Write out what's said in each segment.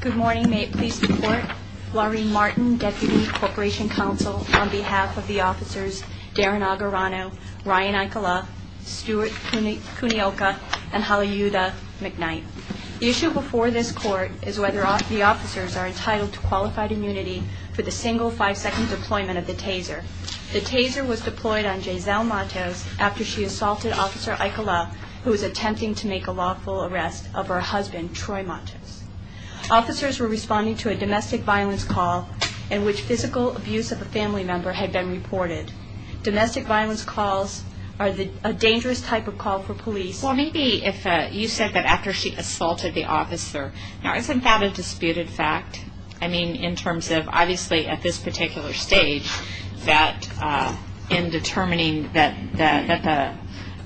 Good morning. May it please the court. Laureen Martin, Deputy Corporation Counsel, on behalf of the officers Darren Agarano, Ryan Aikala, Stuart Kunioka, and Haliuda McKnight. The issue before this court is whether the officers are entitled to qualified immunity for the single five-second deployment of the taser. The taser was deployed on Jazelle Mattos after she assaulted Officer Aikala, who was attempting to make a lawful arrest of her husband, Troy Mattos. Officers were responding to a domestic violence call in which physical abuse of a family member had been reported. Domestic violence calls are a dangerous type of call for police. Well, maybe if you said that after she assaulted the officer, now isn't that a disputed fact? I mean, in terms of, obviously, at this particular stage, that in determining that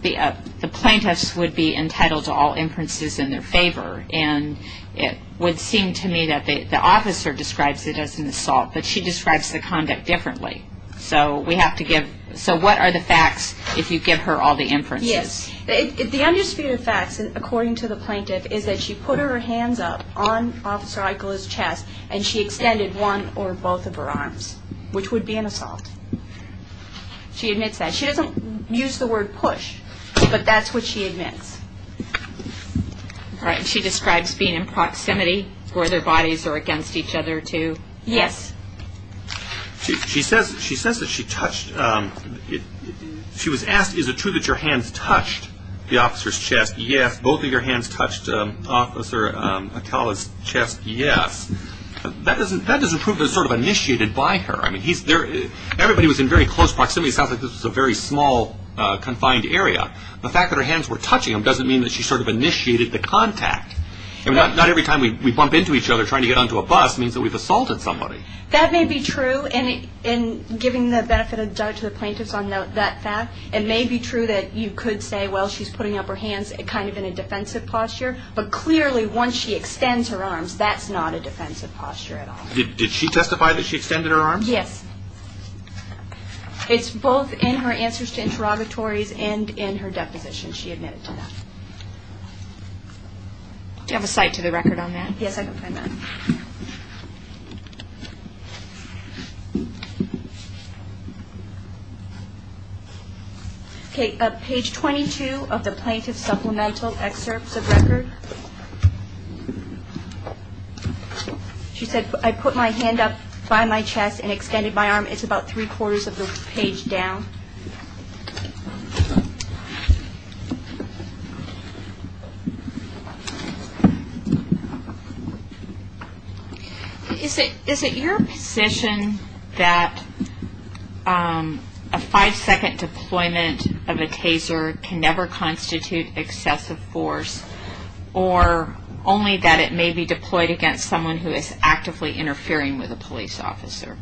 the plaintiffs would be entitled to all inferences in their favor, and it would seem to me that the officer describes it as an assault, but she describes the conduct differently. So we have to give, so what are the facts if you give her all the inferences? Yes, the undisputed facts, according to the plaintiff, is that she put her hands up on Officer Aikala's chest, and she extended one or both of her arms, which would be an assault. She admits that. She doesn't use the word push, but that's what she admits. All right, and she describes being in proximity where their bodies are against each other, too? Yes. She says that she touched, she was asked, is it true that your hands touched the officer's chest? Yes. Both of your hands touched Officer Aikala's chest? Yes. That doesn't prove that it was sort of initiated by her. I mean, everybody was in very close proximity. It sounds like this was a very small, confined area. The fact that her hands were touching him doesn't mean that she sort of initiated the contact. Not every time we bump into each other trying to get onto a bus means that we've assaulted somebody. That may be true, and in giving the benefit of the doubt to the plaintiffs on that fact, it may be true that you could say, well, she's putting up her hands kind of in a defensive posture, but clearly once she extends her arms, that's not a defensive posture at all. Did she testify that she extended her arms? Yes. It's both in her answers to interrogatories and in her deposition she admitted to that. Do you have a cite to the record on that? Yes, I can find that. Okay, page 22 of the plaintiff's supplemental excerpts of record. She said, I put my hand up by my chest and extended my arm. It's about three-quarters of the page down. Is it your position that a five-second deployment of a taser can never constitute excessive force, or only that it may be deployed against someone who is actively interfering with a police officer?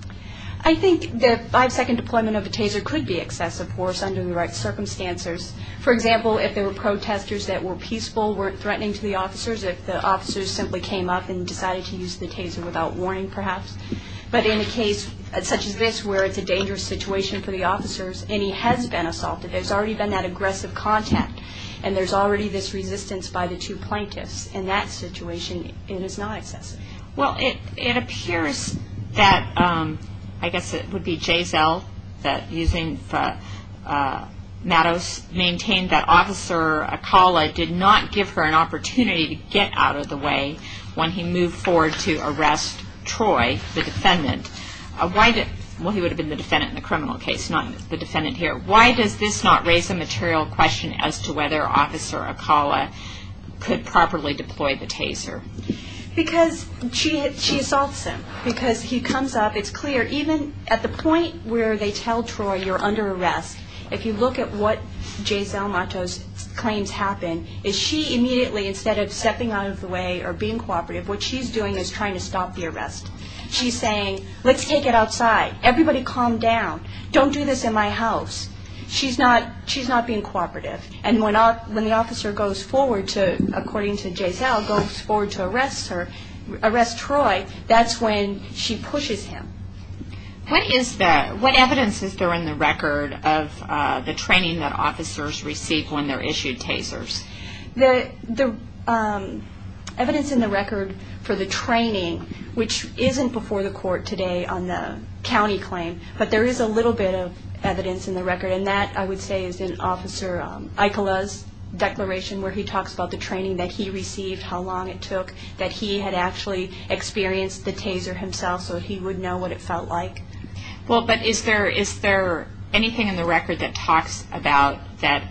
I think the five-second deployment of a taser could be excessive force under the right circumstances. For example, if there were protesters that were peaceful, weren't threatening to the officers, if the officers simply came up and decided to use the taser without warning perhaps. But in a case such as this where it's a dangerous situation for the officers and he has been assaulted, there's already been that aggressive contact, and there's already this resistance by the two plaintiffs. In that situation, it is not excessive. Well, it appears that, I guess it would be Jay Zell that, using Mattos, maintained that Officer Acala did not give her an opportunity to get out of the way when he moved forward to arrest Troy, the defendant. Well, he would have been the defendant in the criminal case, not the defendant here. Why does this not raise a material question as to whether Officer Acala could properly deploy the taser? Because she assaults him. Because he comes up. It's clear, even at the point where they tell Troy you're under arrest, if you look at what Jay Zell Mattos' claims happen, is she immediately, instead of stepping out of the way or being cooperative, what she's doing is trying to stop the arrest. She's saying, let's take it outside. Everybody calm down. Don't do this in my house. She's not being cooperative. And when the officer goes forward to, according to Jay Zell, goes forward to arrest Troy, that's when she pushes him. What evidence is there in the record of the training that officers receive when they're issued tasers? The evidence in the record for the training, which isn't before the court today on the county claim, but there is a little bit of evidence in the record, and that, I would say, is in Officer Acala's declaration where he talks about the training that he received, how long it took, that he had actually experienced the taser himself, so he would know what it felt like. Well, but is there anything in the record that talks about that,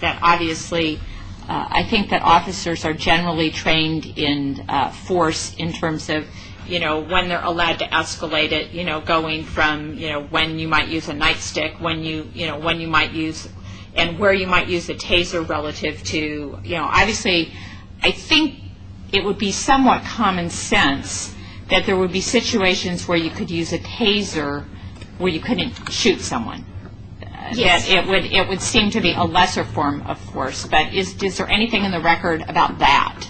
that obviously I think that officers are generally trained in force in terms of, you know, when they're allowed to escalate it, you know, going from, you know, when you might use a nightstick, when you might use, and where you might use a taser relative to, you know, obviously I think it would be somewhat common sense that there would be situations where you could use a taser where you couldn't shoot someone. Yes. It would seem to be a lesser form of force, but is there anything in the record about that?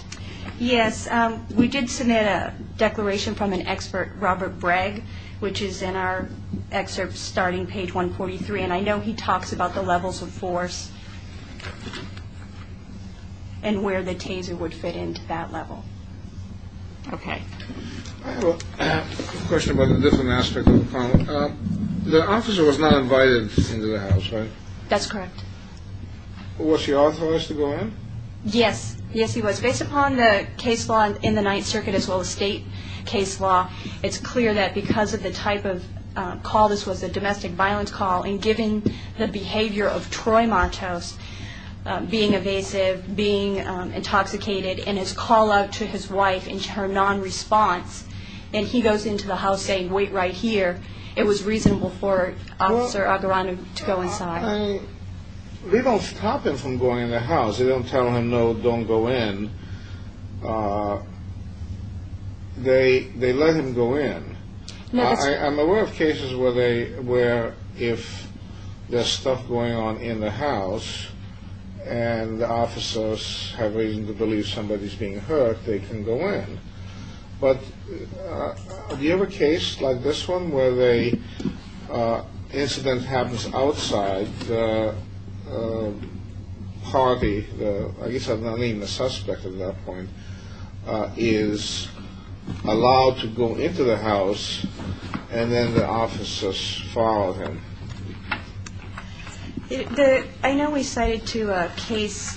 Yes. We did submit a declaration from an expert, Robert Bragg, which is in our excerpt starting page 143, and I know he talks about the levels of force and where the taser would fit into that level. Okay. I have a question about a different aspect of the problem. The officer was not invited into the house, right? That's correct. Was he authorized to go in? Yes. Yes, he was. Based upon the case law in the Ninth Circuit as well as state case law, it's clear that because of the type of call, this was a domestic violence call, and given the behavior of Troy Martos being evasive, being intoxicated, and his call-out to his wife and her non-response, and he goes into the house saying, wait right here, it was reasonable for Officer Agaranem to go inside. They don't stop him from going in the house. They don't tell him, no, don't go in. They let him go in. I'm aware of cases where if there's stuff going on in the house and the officers have reason to believe somebody's being hurt, they can go in. But do you have a case like this one where an incident happens outside, the party, I guess not even the suspect at that point, is allowed to go into the house and then the officers follow him? I know we cited a case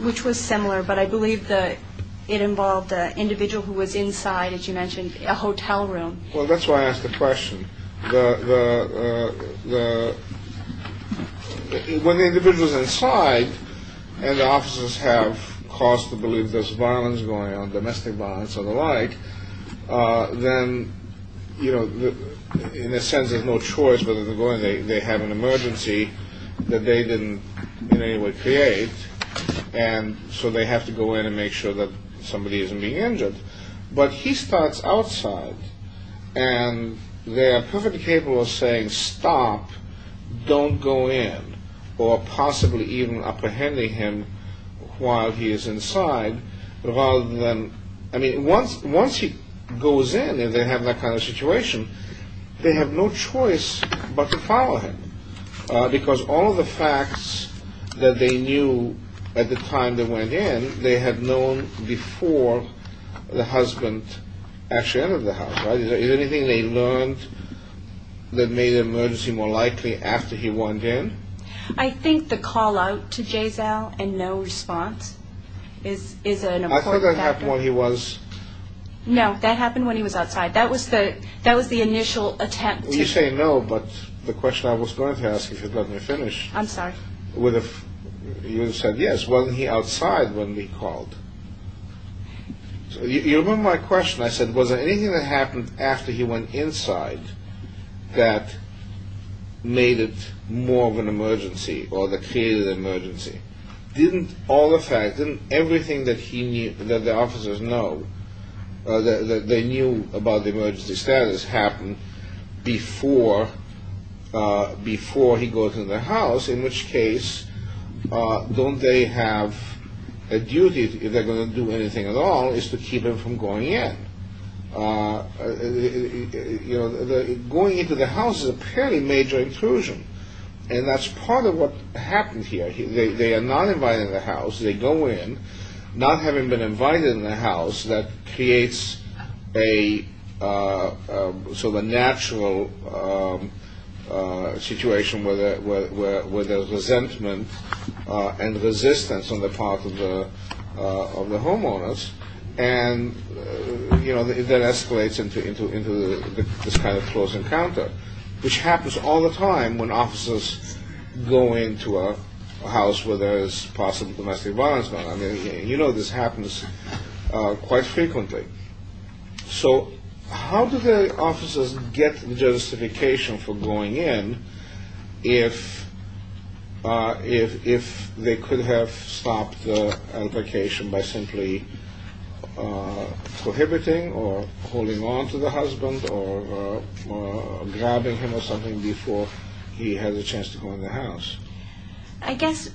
which was similar, but I believe it involved an individual who was inside, as you mentioned, a hotel room. Well, that's why I asked the question. When the individual's inside and the officers have cause to believe there's violence going on, domestic violence and the like, then, you know, in a sense, there's no choice whether to go in. They have an emergency that they didn't in any way create, and so they have to go in and make sure that somebody isn't being injured. But he starts outside, and they are perfectly capable of saying, stop, don't go in, or possibly even apprehending him while he is inside. I mean, once he goes in and they have that kind of situation, they have no choice but to follow him because all of the facts that they knew at the time they went in, they had known before the husband actually entered the house, right? Is there anything they learned that made the emergency more likely after he went in? I think the call-out to Giselle and no response is an important factor. I thought that happened when he was... No, that happened when he was outside. That was the initial attempt to... You say no, but the question I was going to ask, if you'd let me finish... I'm sorry. You would have said yes. Wasn't he outside when we called? So you remember my question. I said, was there anything that happened after he went inside that made it more of an emergency or that created an emergency? Didn't all the facts, didn't everything that the officers knew, that they knew about the emergency status happened before he goes in the house, in which case don't they have a duty, if they're going to do anything at all, is to keep him from going in? Going into the house is apparently a major intrusion, and that's part of what happened here. They are not invited in the house. They go in not having been invited in the house. That creates a sort of a natural situation where there's resentment and resistance on the part of the homeowners, and that escalates into this kind of close encounter, which happens all the time when officers go into a house where there is possible domestic violence. You know this happens quite frequently. So how do the officers get justification for going in if they could have stopped the altercation by simply prohibiting or holding on to the husband or grabbing him or something before he has a chance to go in the house? I guess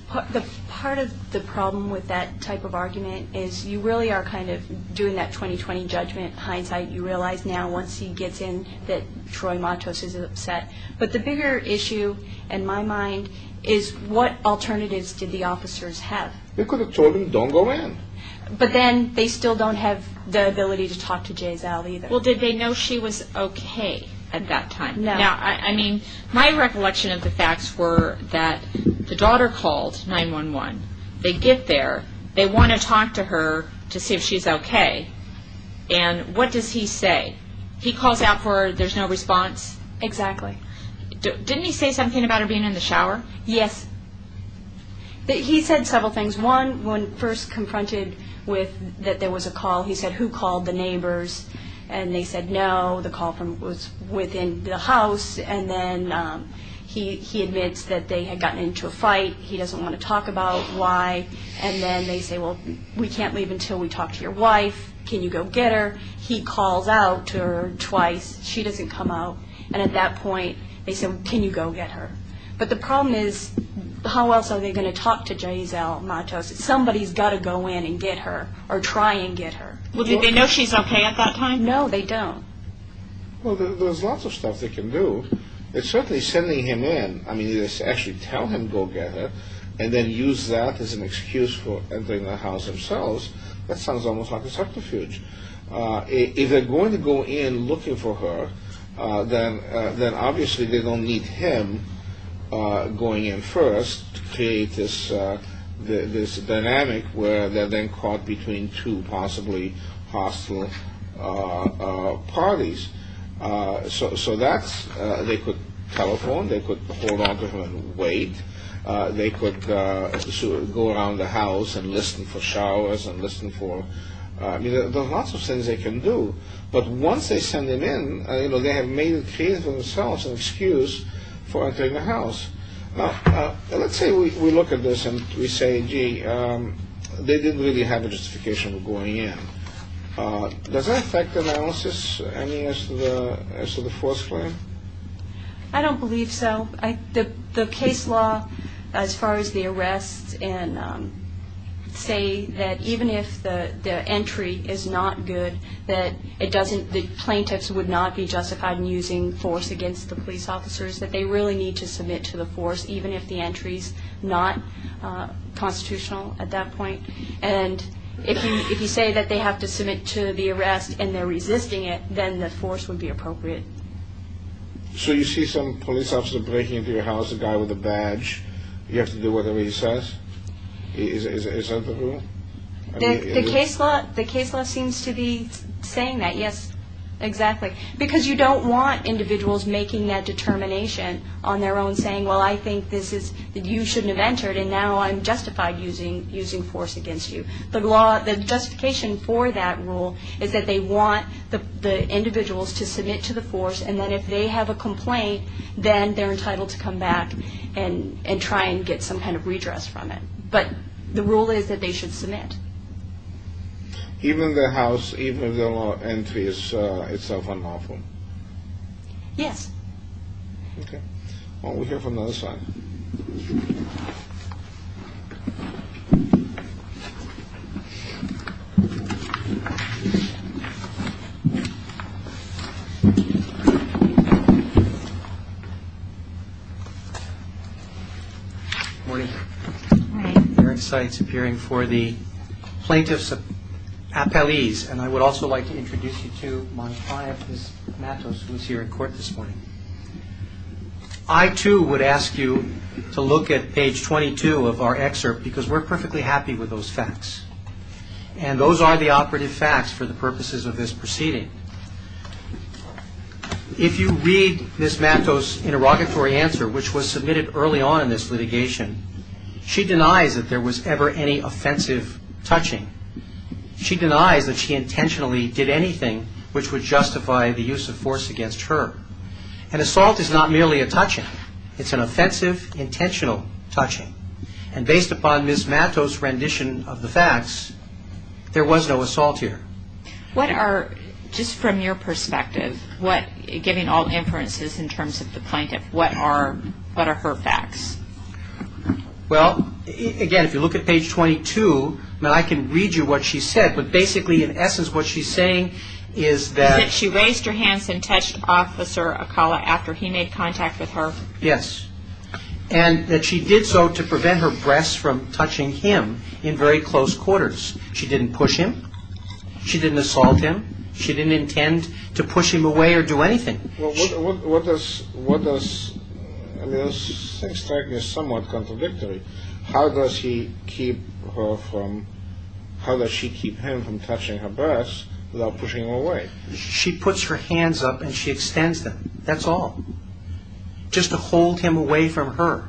part of the problem with that type of argument is you really are kind of doing that 20-20 judgment hindsight. You realize now once he gets in that Troy Matos is upset. But the bigger issue in my mind is what alternatives did the officers have? They could have told him don't go in. But then they still don't have the ability to talk to Jay Zal either. Well, did they know she was okay at that time? No. My recollection of the facts were that the daughter called 911. They get there. They want to talk to her to see if she's okay. And what does he say? He calls out for her. There's no response. Exactly. Didn't he say something about her being in the shower? Yes. He said several things. One, when first confronted that there was a call, he said who called the neighbors? And they said no. The call was within the house. And then he admits that they had gotten into a fight. He doesn't want to talk about why. And then they say, well, we can't leave until we talk to your wife. Can you go get her? He calls out to her twice. She doesn't come out. And at that point they said, can you go get her? But the problem is how else are they going to talk to Jay Zal Matos? Somebody's got to go in and get her or try and get her. Well, did they know she's okay at that time? No, they don't. Well, there's lots of stuff they can do. Certainly sending him in, I mean, actually tell him go get her and then use that as an excuse for entering the house themselves, that sounds almost like a subterfuge. If they're going to go in looking for her, then obviously they don't need him going in first to create this dynamic where they're then caught between two possibly hostile parties. So that's, they could telephone, they could hold on to her and wait. They could go around the house and listen for showers and listen for, I mean, there's lots of things they can do. But once they send him in, you know, they have made it clear to themselves an excuse for entering the house. Let's say we look at this and we say, gee, they didn't really have a justification for going in. Does that affect analysis, I mean, as to the force claim? I don't believe so. The case law, as far as the arrests, say that even if the entry is not good, that the plaintiffs would not be justified in using force against the police officers, that they really need to submit to the force, even if the entry is not constitutional at that point. And if you say that they have to submit to the arrest and they're resisting it, then the force would be appropriate. So you see some police officer breaking into your house, a guy with a badge, you have to do whatever he says? Is that the rule? The case law seems to be saying that, yes, exactly. Because you don't want individuals making that determination on their own, saying, well, I think that you shouldn't have entered and now I'm justified using force against you. The justification for that rule is that they want the individuals to submit to the force and that if they have a complaint, then they're entitled to come back and try and get some kind of redress from it. But the rule is that they should submit. Even if the house, even if the entry is unlawful? Yes. Okay. Well, we'll hear from the other side. Good morning. Good morning. Eric Seitz appearing for the plaintiffs' appellees. And I would also like to introduce you to Monika Matos, who is here in court this morning. I, too, would ask you to look at page 22 of our excerpt because we're perfectly happy with those facts. And those are the operative facts for the purposes of this proceeding. If you read Ms. Matos' interrogatory answer, which was submitted early on in this litigation, she denies that there was ever any offensive touching. She denies that she intentionally did anything which would justify the use of force against her. An assault is not merely a touching. It's an offensive, intentional touching. And based upon Ms. Matos' rendition of the facts, there was no assault here. What are, just from your perspective, what, giving all inferences in terms of the plaintiff, what are her facts? Well, again, if you look at page 22, I can read you what she said. But basically, in essence, what she's saying is that She raised her hands and touched Officer Akala after he made contact with her. Yes. And that she did so to prevent her breasts from touching him in very close quarters. She didn't push him. She didn't assault him. She didn't intend to push him away or do anything. Well, what does, I mean, this thing is somewhat contradictory. How does she keep him from touching her breasts without pushing him away? She puts her hands up and she extends them. That's all. Just to hold him away from her.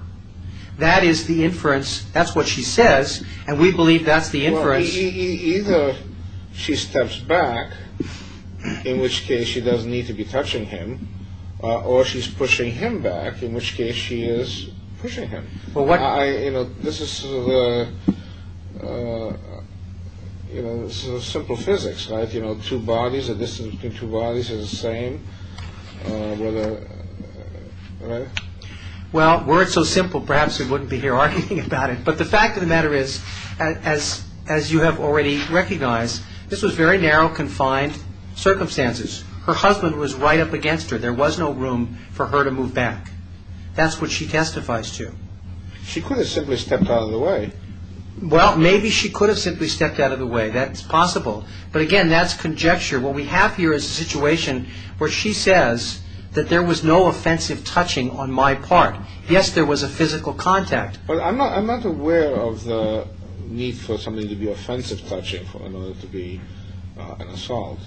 That is the inference. And we believe that's the inference. Either she steps back, in which case she doesn't need to be touching him, or she's pushing him back, in which case she is pushing him. Well, what You know, this is sort of a, you know, simple physics, right? You know, two bodies, the distance between two bodies is the same. Whether, right? Well, were it so simple, perhaps we wouldn't be here arguing about it. But the fact of the matter is, as you have already recognized, this was very narrow, confined circumstances. Her husband was right up against her. There was no room for her to move back. That's what she testifies to. She could have simply stepped out of the way. Well, maybe she could have simply stepped out of the way. That's possible. But again, that's conjecture. What we have here is a situation where she says that there was no offensive touching on my part. Yes, there was a physical contact. But I'm not aware of the need for something to be offensive touching in order to be an assault.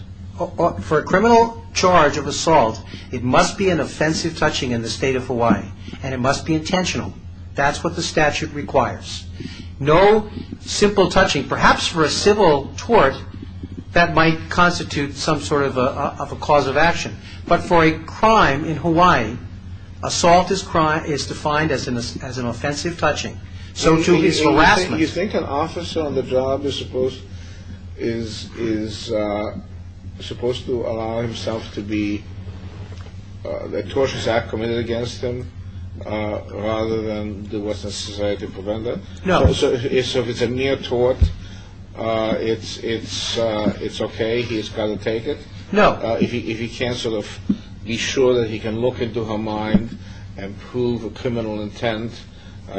For a criminal charge of assault, it must be an offensive touching in the state of Hawaii. And it must be intentional. That's what the statute requires. No simple touching. Perhaps for a civil tort, that might constitute some sort of a cause of action. But for a crime in Hawaii, assault as crime is defined as an offensive touching. So too is harassment. Do you think an officer on the job is supposed to allow himself to be, that tortures are committed against him rather than do what's necessary to prevent it? No. So if it's a near tort, it's okay, he's got to take it? No. If he can't sort of be sure that he can look into her mind and prove a criminal intent,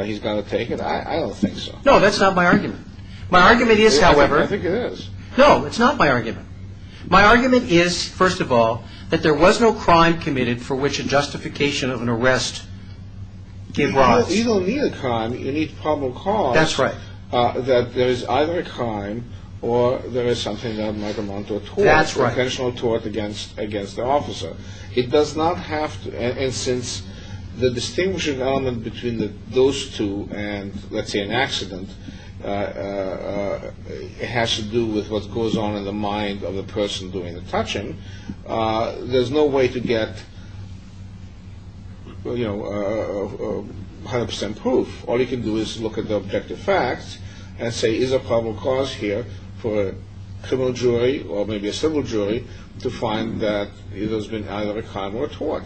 he's got to take it? I don't think so. No, that's not my argument. My argument is, however. I think it is. No, it's not my argument. My argument is, first of all, that there was no crime committed for which a justification of an arrest gave rise. You don't need a crime, you need probable cause. That's right. That there is either a crime or there is something that might amount to a tort. That's right. Or a intentional tort against the officer. It does not have to, and since the distinguishing element between those two and, let's say, an accident, has to do with what goes on in the mind of the person doing the touching, there's no way to get, you know, 100% proof. All you can do is look at the objective facts and say, there is a probable cause here for a criminal jury, or maybe a civil jury, to find that there's been either a crime or a tort.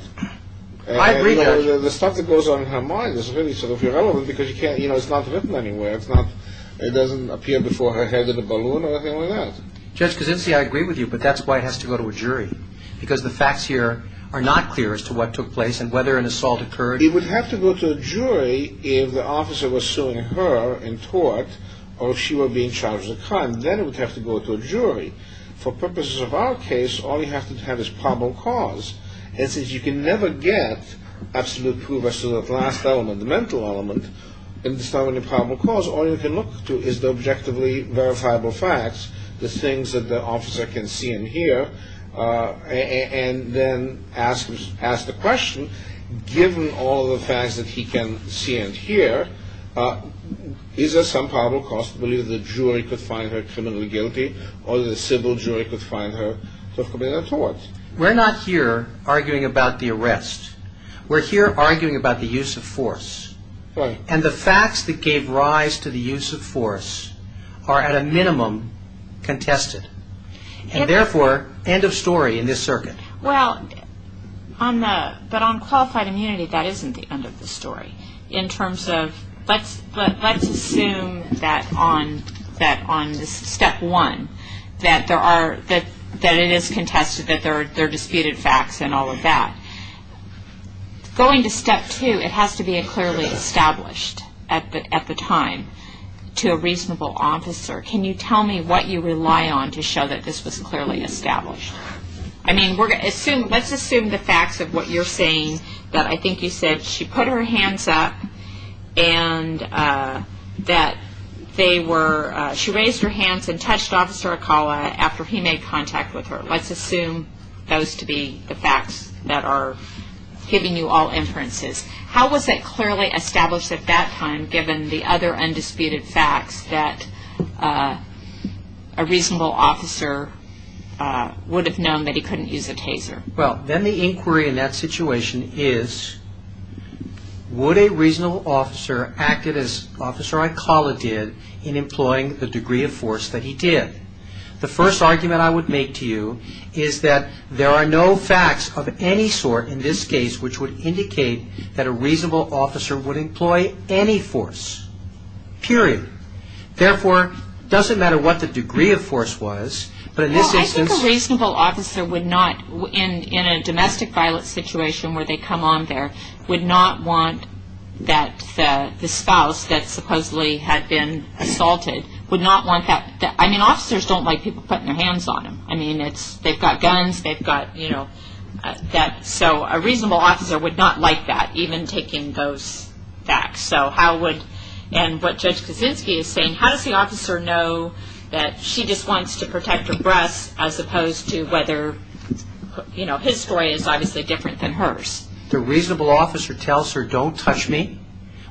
I agree, Judge. The stuff that goes on in her mind is really sort of irrelevant because, you know, it's not written anywhere. It doesn't appear before her head in a balloon or anything like that. Judge Kaczynski, I agree with you, but that's why it has to go to a jury because the facts here are not clear as to what took place and whether an assault occurred. It would have to go to a jury if the officer was suing her in tort or if she were being charged with a crime. Then it would have to go to a jury. For purposes of our case, all you have to have is probable cause. And since you can never get absolute proof as to that last element, the mental element, and there's not any probable cause, all you can look to is the objectively verifiable facts, the things that the officer can see and hear, and then ask the question, given all the facts that he can see and hear, is there some probable cause to believe that the jury could find her criminally guilty or that the civil jury could find her to have committed a tort? We're not here arguing about the arrest. We're here arguing about the use of force. And the facts that gave rise to the use of force are, at a minimum, contested. And therefore, end of story in this circuit. Well, but on qualified immunity, that isn't the end of the story. In terms of let's assume that on step one that it is contested, that there are disputed facts and all of that. Going to step two, it has to be clearly established at the time to a reasonable officer, can you tell me what you rely on to show that this was clearly established? I mean, let's assume the facts of what you're saying, that I think you said she put her hands up and that she raised her hands and touched Officer Acala after he made contact with her. Let's assume those to be the facts that are giving you all inferences. How was it clearly established at that time, given the other undisputed facts, that a reasonable officer would have known that he couldn't use a taser? Well, then the inquiry in that situation is, would a reasonable officer act as Officer Acala did in employing the degree of force that he did? The first argument I would make to you is that there are no facts of any sort in this case which would indicate that a reasonable officer would employ any force, period. Therefore, it doesn't matter what the degree of force was, but in this instance... Well, I think a reasonable officer would not, in a domestic violence situation where they come on there, would not want that the spouse that supposedly had been assaulted would not want that... I mean, officers don't like people putting their hands on them. I mean, they've got guns, they've got, you know... So a reasonable officer would not like that, even taking those facts. So how would... and what Judge Kaczynski is saying, how does the officer know that she just wants to protect her breasts as opposed to whether, you know, his story is obviously different than hers? The reasonable officer tells her, don't touch me,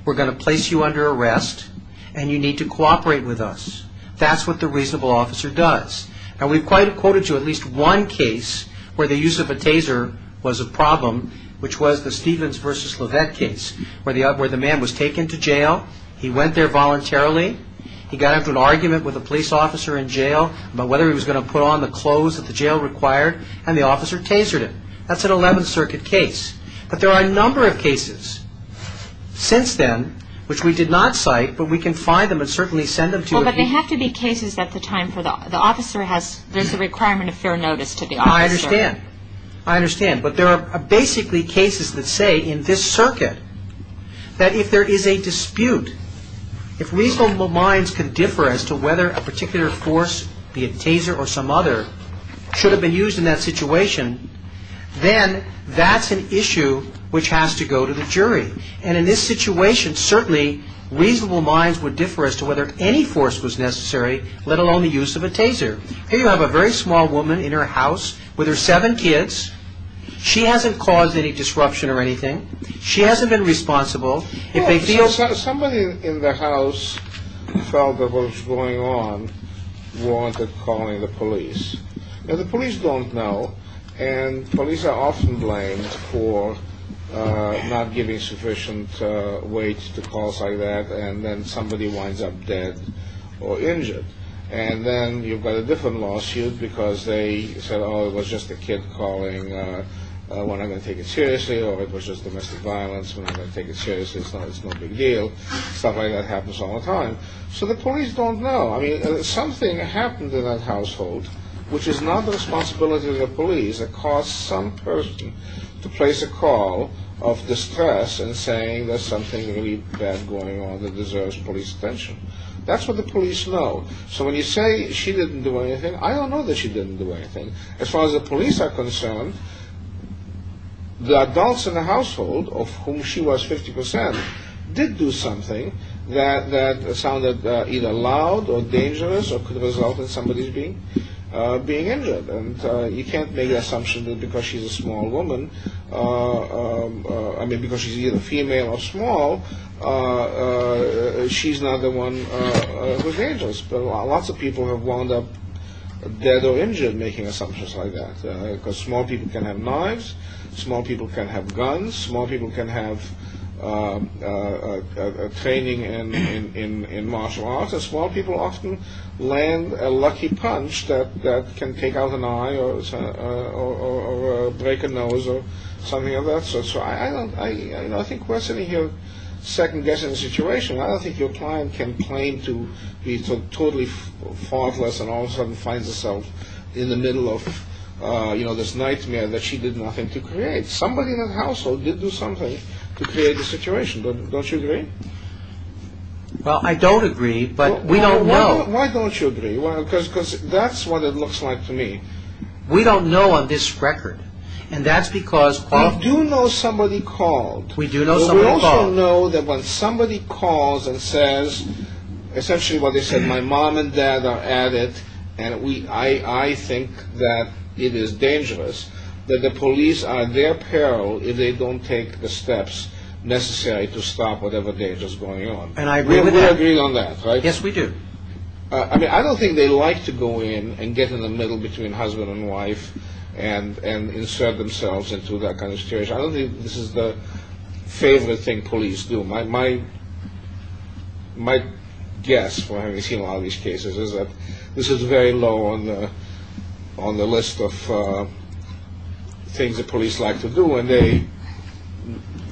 we're going to place you under arrest, and you need to cooperate with us. That's what the reasonable officer does. Now, we've quoted you at least one case where the use of a taser was a problem, which was the Stevens v. LeVette case, where the man was taken to jail. He went there voluntarily. He got into an argument with a police officer in jail about whether he was going to put on the clothes that the jail required, and the officer tasered him. That's an 11th Circuit case. But there are a number of cases since then which we did not cite, but we can find them and certainly send them to you. No, but they have to be cases at the time for the officer has... there's a requirement of fair notice to the officer. I understand. I understand. But there are basically cases that say in this circuit that if there is a dispute, if reasonable minds can differ as to whether a particular force, be it taser or some other, should have been used in that situation, then that's an issue which has to go to the jury. And in this situation, certainly reasonable minds would differ as to whether any force was necessary, let alone the use of a taser. Here you have a very small woman in her house with her seven kids. She hasn't caused any disruption or anything. She hasn't been responsible. Somebody in the house felt that what was going on warranted calling the police. Now, the police don't know, and police are often blamed for not giving sufficient weight to calls like that and then somebody winds up dead or injured. And then you've got a different lawsuit because they said, oh, it was just a kid calling when I'm going to take it seriously, or it was just domestic violence when I'm going to take it seriously. It's no big deal. Stuff like that happens all the time. So the police don't know. I mean, something happened in that household which is not the responsibility of the police. It caused some person to place a call of distress and saying there's something really bad going on that deserves police attention. That's what the police know. So when you say she didn't do anything, I don't know that she didn't do anything. As far as the police are concerned, the adults in the household of whom she was 50 percent did do something that sounded either loud or dangerous or could result in somebody being injured. And you can't make the assumption that because she's a small woman, I mean, because she's either female or small, she's not the one who's dangerous. But lots of people have wound up dead or injured making assumptions like that because small people can have knives, small people can have guns, small people can have training in martial arts. Small people often land a lucky punch that can take out an eye or break a nose or something like that. So I don't think we're sitting here second-guessing the situation. I don't think your client can claim to be totally faultless and all of a sudden finds herself in the middle of this nightmare that she did nothing to create. Somebody in that household did do something to create the situation. Don't you agree? Well, I don't agree, but we don't know. Why don't you agree? Because that's what it looks like to me. We don't know on this record, and that's because... We do know somebody called. We do know somebody called. We also know that when somebody calls and says essentially what they said, my mom and dad are at it, and I think that it is dangerous, that the police are at their peril if they don't take the steps necessary to stop whatever danger is going on. And I agree with that. We agree on that, right? Yes, we do. I mean, I don't think they like to go in and get in the middle between husband and wife and insert themselves into that kind of situation. I don't think this is the favorite thing police do. My guess, having seen a lot of these cases, is that this is very low on the list of things that police like to do, and they,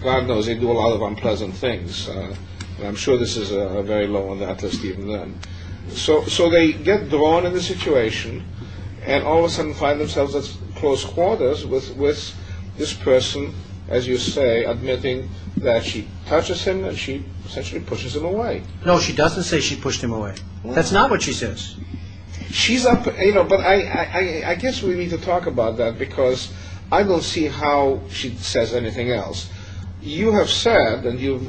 God knows, they do a lot of unpleasant things. I'm sure this is very low on that list even then. So they get drawn in the situation and all of a sudden find themselves at close quarters with this person, as you say, admitting that she touches him and she essentially pushes him away. No, she doesn't say she pushed him away. That's not what she says. She's up, you know, but I guess we need to talk about that because I don't see how she says anything else. You have said, and you've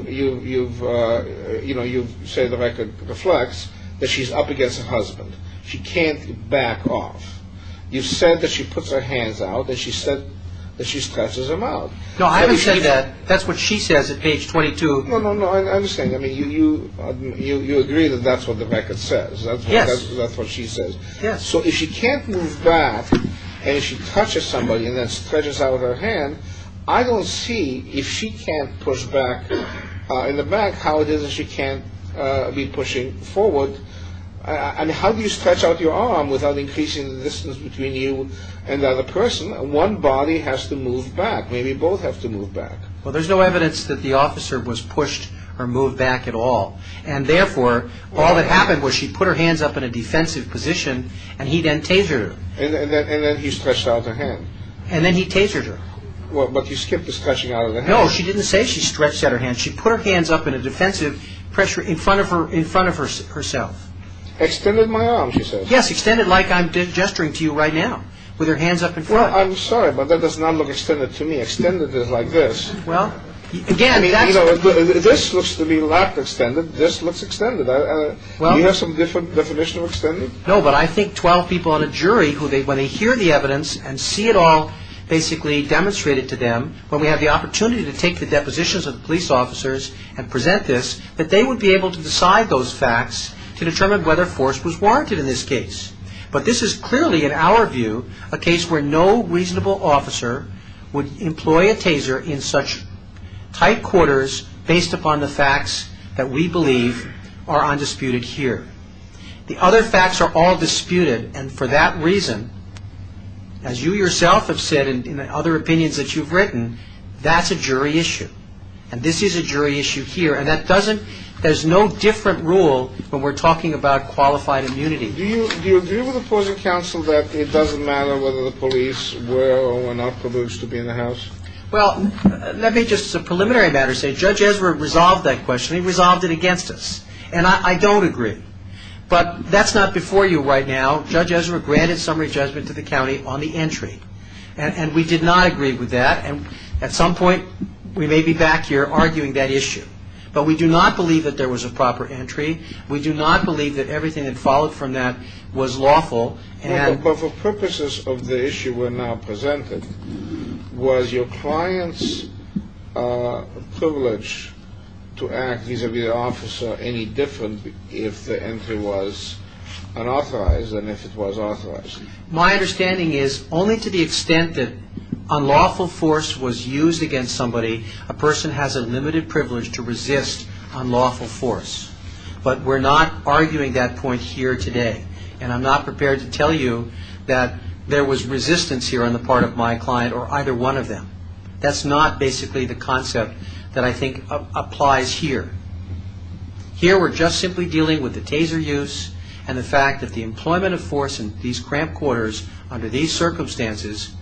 said the record reflects, that she's up against her husband. She can't back off. You've said that she puts her hands out and she said that she stretches them out. No, I haven't said that. That's what she says at page 22. No, no, no, I understand. I mean, you agree that that's what the record says. Yes. That's what she says. Yes. So if she can't move back and if she touches somebody and then stretches out her hand, I don't see if she can't push back in the back how it is that she can't be pushing forward. And how do you stretch out your arm without increasing the distance between you and the other person? One body has to move back. Maybe both have to move back. Well, there's no evidence that the officer was pushed or moved back at all. And therefore, all that happened was she put her hands up in a defensive position and he then tasered her. And then he stretched out her hand. And then he tasered her. But you skipped the stretching out of the hand. No, she didn't say she stretched out her hand. She put her hands up in a defensive pressure in front of herself. Extended my arm, she says. Yes, extended like I'm gesturing to you right now with her hands up in front. Well, I'm sorry, but that does not look extended to me. Extended is like this. Well, again, that's – This looks to me like extended. This looks extended. Do you have some different definition of extended? No, but I think 12 people on a jury who when they hear the evidence and see it all basically demonstrated to them, when we have the opportunity to take the depositions of the police officers and present this, that they would be able to decide those facts to determine whether force was warranted in this case. But this is clearly, in our view, a case where no reasonable officer would employ a taser in such tight quarters based upon the facts that we believe are undisputed here. The other facts are all disputed. And for that reason, as you yourself have said in other opinions that you've written, that's a jury issue. And this is a jury issue here. And that doesn't – there's no different rule when we're talking about qualified immunity. Do you agree with opposing counsel that it doesn't matter whether the police were or were not provoked to be in the house? Well, let me just as a preliminary matter say Judge Ezra resolved that question. He resolved it against us. And I don't agree. But that's not before you right now. Judge Ezra granted summary judgment to the county on the entry. And we did not agree with that. And at some point we may be back here arguing that issue. But we do not believe that there was a proper entry. We do not believe that everything that followed from that was lawful. But for purposes of the issue we're now presenting, was your client's privilege to act vis-a-vis the officer any different if the entry was unauthorized than if it was authorized? My understanding is only to the extent that unlawful force was used against somebody, a person has a limited privilege to resist unlawful force. But we're not arguing that point here today. And I'm not prepared to tell you that there was resistance here on the part of my client or either one of them. That's not basically the concept that I think applies here. Here we're just simply dealing with the taser use and the fact that the employment of force in these cramp quarters under these circumstances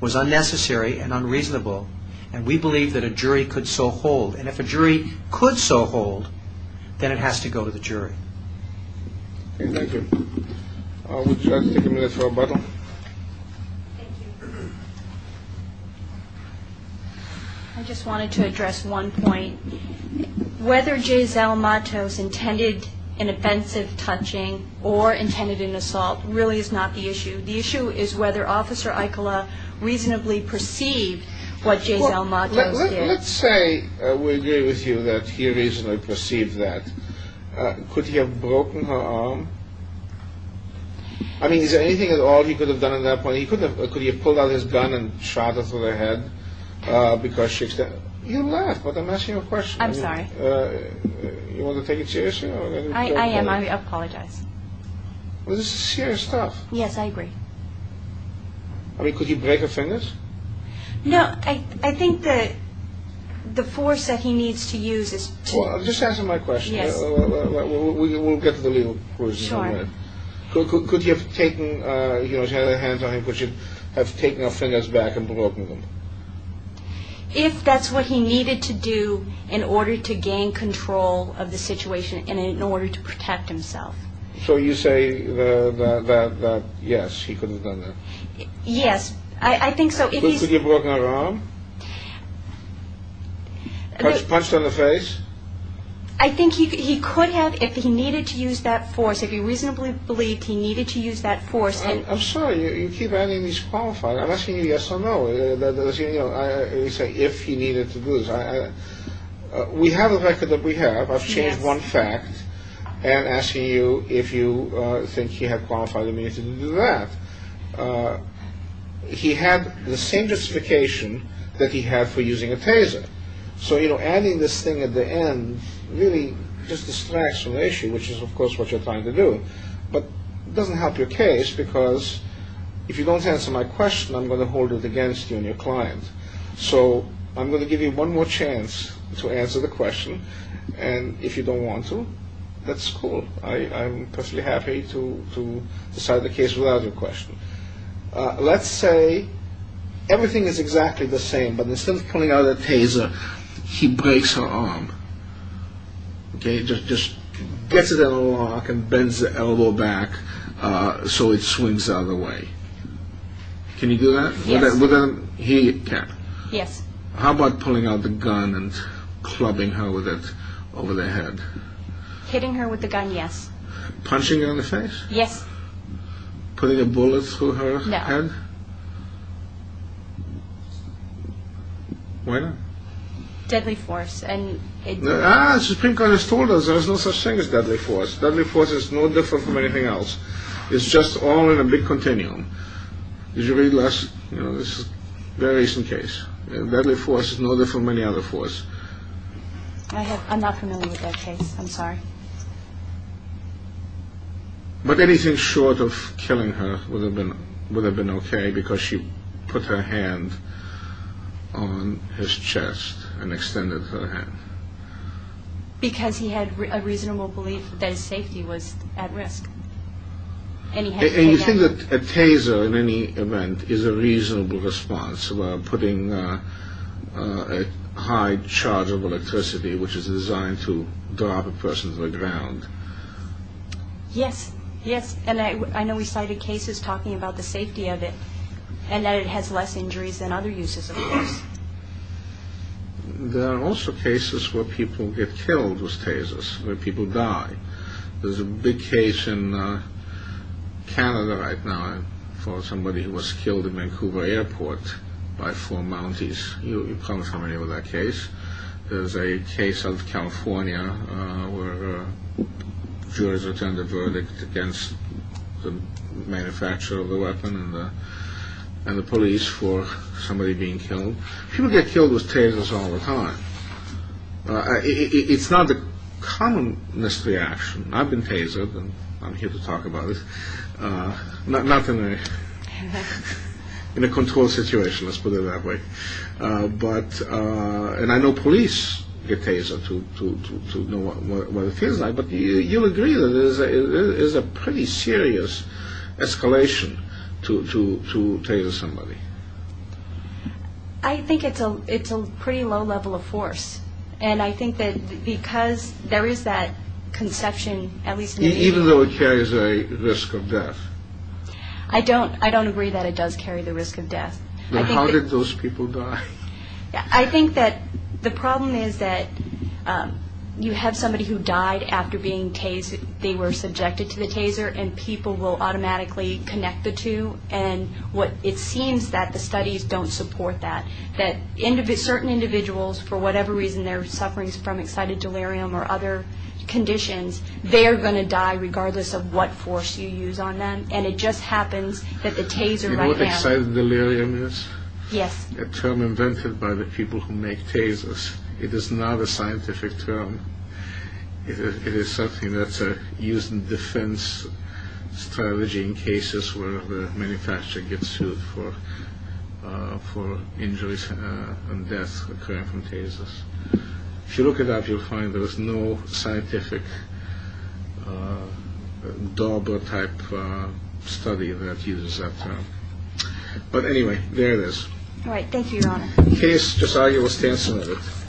was unnecessary and unreasonable. And we believe that a jury could so hold. And if a jury could so hold, then it has to go to the jury. Thank you. Would you like to take a minute for rebuttal? Thank you. I just wanted to address one point. Whether Jay Zalmatos intended an offensive touching or intended an assault really is not the issue. The issue is whether Officer Aikola reasonably perceived what Jay Zalmatos did. Let's say we agree with you that he reasonably perceived that. Could he have broken her arm? I mean, is there anything at all he could have done at that point? Could he have pulled out his gun and shot her through the head because she's dead? You laugh, but I'm asking you a question. I'm sorry. You want to take it seriously? I am. I apologize. This is serious stuff. Yes, I agree. I mean, could he break her fingers? No, I think that the force that he needs to use is to. Just answer my question. Yes. We'll get to the legal questions in a minute. Sure. Could he have taken her hands on him? Could he have taken her fingers back and broken them? If that's what he needed to do in order to gain control of the situation and in order to protect himself. So you say that, yes, he could have done that? Yes. I think so. Could he have broken her arm? Punched her in the face? I think he could have if he needed to use that force. If he reasonably believed he needed to use that force. I'm sorry. You keep adding these qualifiers. I'm asking you yes or no. You say if he needed to do this. We have a record that we have. I've changed one fact. And I'm asking you if you think he had qualified immunity to do that. He had the same justification that he had for using a taser. So, you know, adding this thing at the end really just distracts from the issue, which is, of course, what you're trying to do. But it doesn't help your case because if you don't answer my question, I'm going to hold it against you and your client. So I'm going to give you one more chance to answer the question. And if you don't want to, that's cool. I'm perfectly happy to decide the case without your question. Let's say everything is exactly the same, but instead of pulling out that taser, he breaks her arm. Okay, just gets it out of the lock and bends the elbow back so it swings out of the way. Can you do that? Yes. Here you go, Kat. Yes. How about pulling out the gun and clubbing her with it over the head? Hitting her with the gun, yes. Punching her in the face? Yes. Putting a bullet through her head? No. Why not? Deadly force. Ah, Supreme Court has told us there's no such thing as deadly force. Deadly force is no different from anything else. It's just all in a big continuum. Did you read last, you know, this is a very recent case. Deadly force is no different from any other force. I'm not familiar with that case. I'm sorry. But anything short of killing her would have been okay because she put her hand on his chest and extended her hand. Because he had a reasonable belief that his safety was at risk. And you think that a taser in any event is a reasonable response about putting a high charge of electricity, which is designed to drop a person to the ground? Yes. Yes. And I know we cited cases talking about the safety of it and that it has less injuries than other uses of force. There are also cases where people get killed with tasers, where people die. There's a big case in Canada right now for somebody who was killed in Vancouver Airport by four Mounties. You're probably familiar with that case. There's a case out of California where jurors returned a verdict against the manufacturer of the weapon and the police for somebody being killed. People get killed with tasers all the time. It's not the commonest reaction. I've been tasered and I'm here to talk about it. Not in a controlled situation, let's put it that way. And I know police get tasered to know what it feels like. But you'll agree that it is a pretty serious escalation to taser somebody. I think it's a pretty low level of force. And I think that because there is that conception, at least in me. Even though it carries a risk of death. I don't agree that it does carry the risk of death. Then how did those people die? I think that the problem is that you have somebody who died after being tasered. They were subjected to the taser and people will automatically connect the two. And it seems that the studies don't support that. That certain individuals, for whatever reason, they're suffering from excited delirium or other conditions. They are going to die regardless of what force you use on them. And it just happens that the taser right now. Do you know what excited delirium is? Yes. A term invented by the people who make tasers. It is not a scientific term. It is something that's used in defense strategy in cases where the manufacturer gets sued for injuries and deaths occurring from tasers. If you look it up, you'll find there is no scientific double type study that uses that term. But anyway, there it is. All right. Thank you, Your Honor. The case just arguably stands submitted.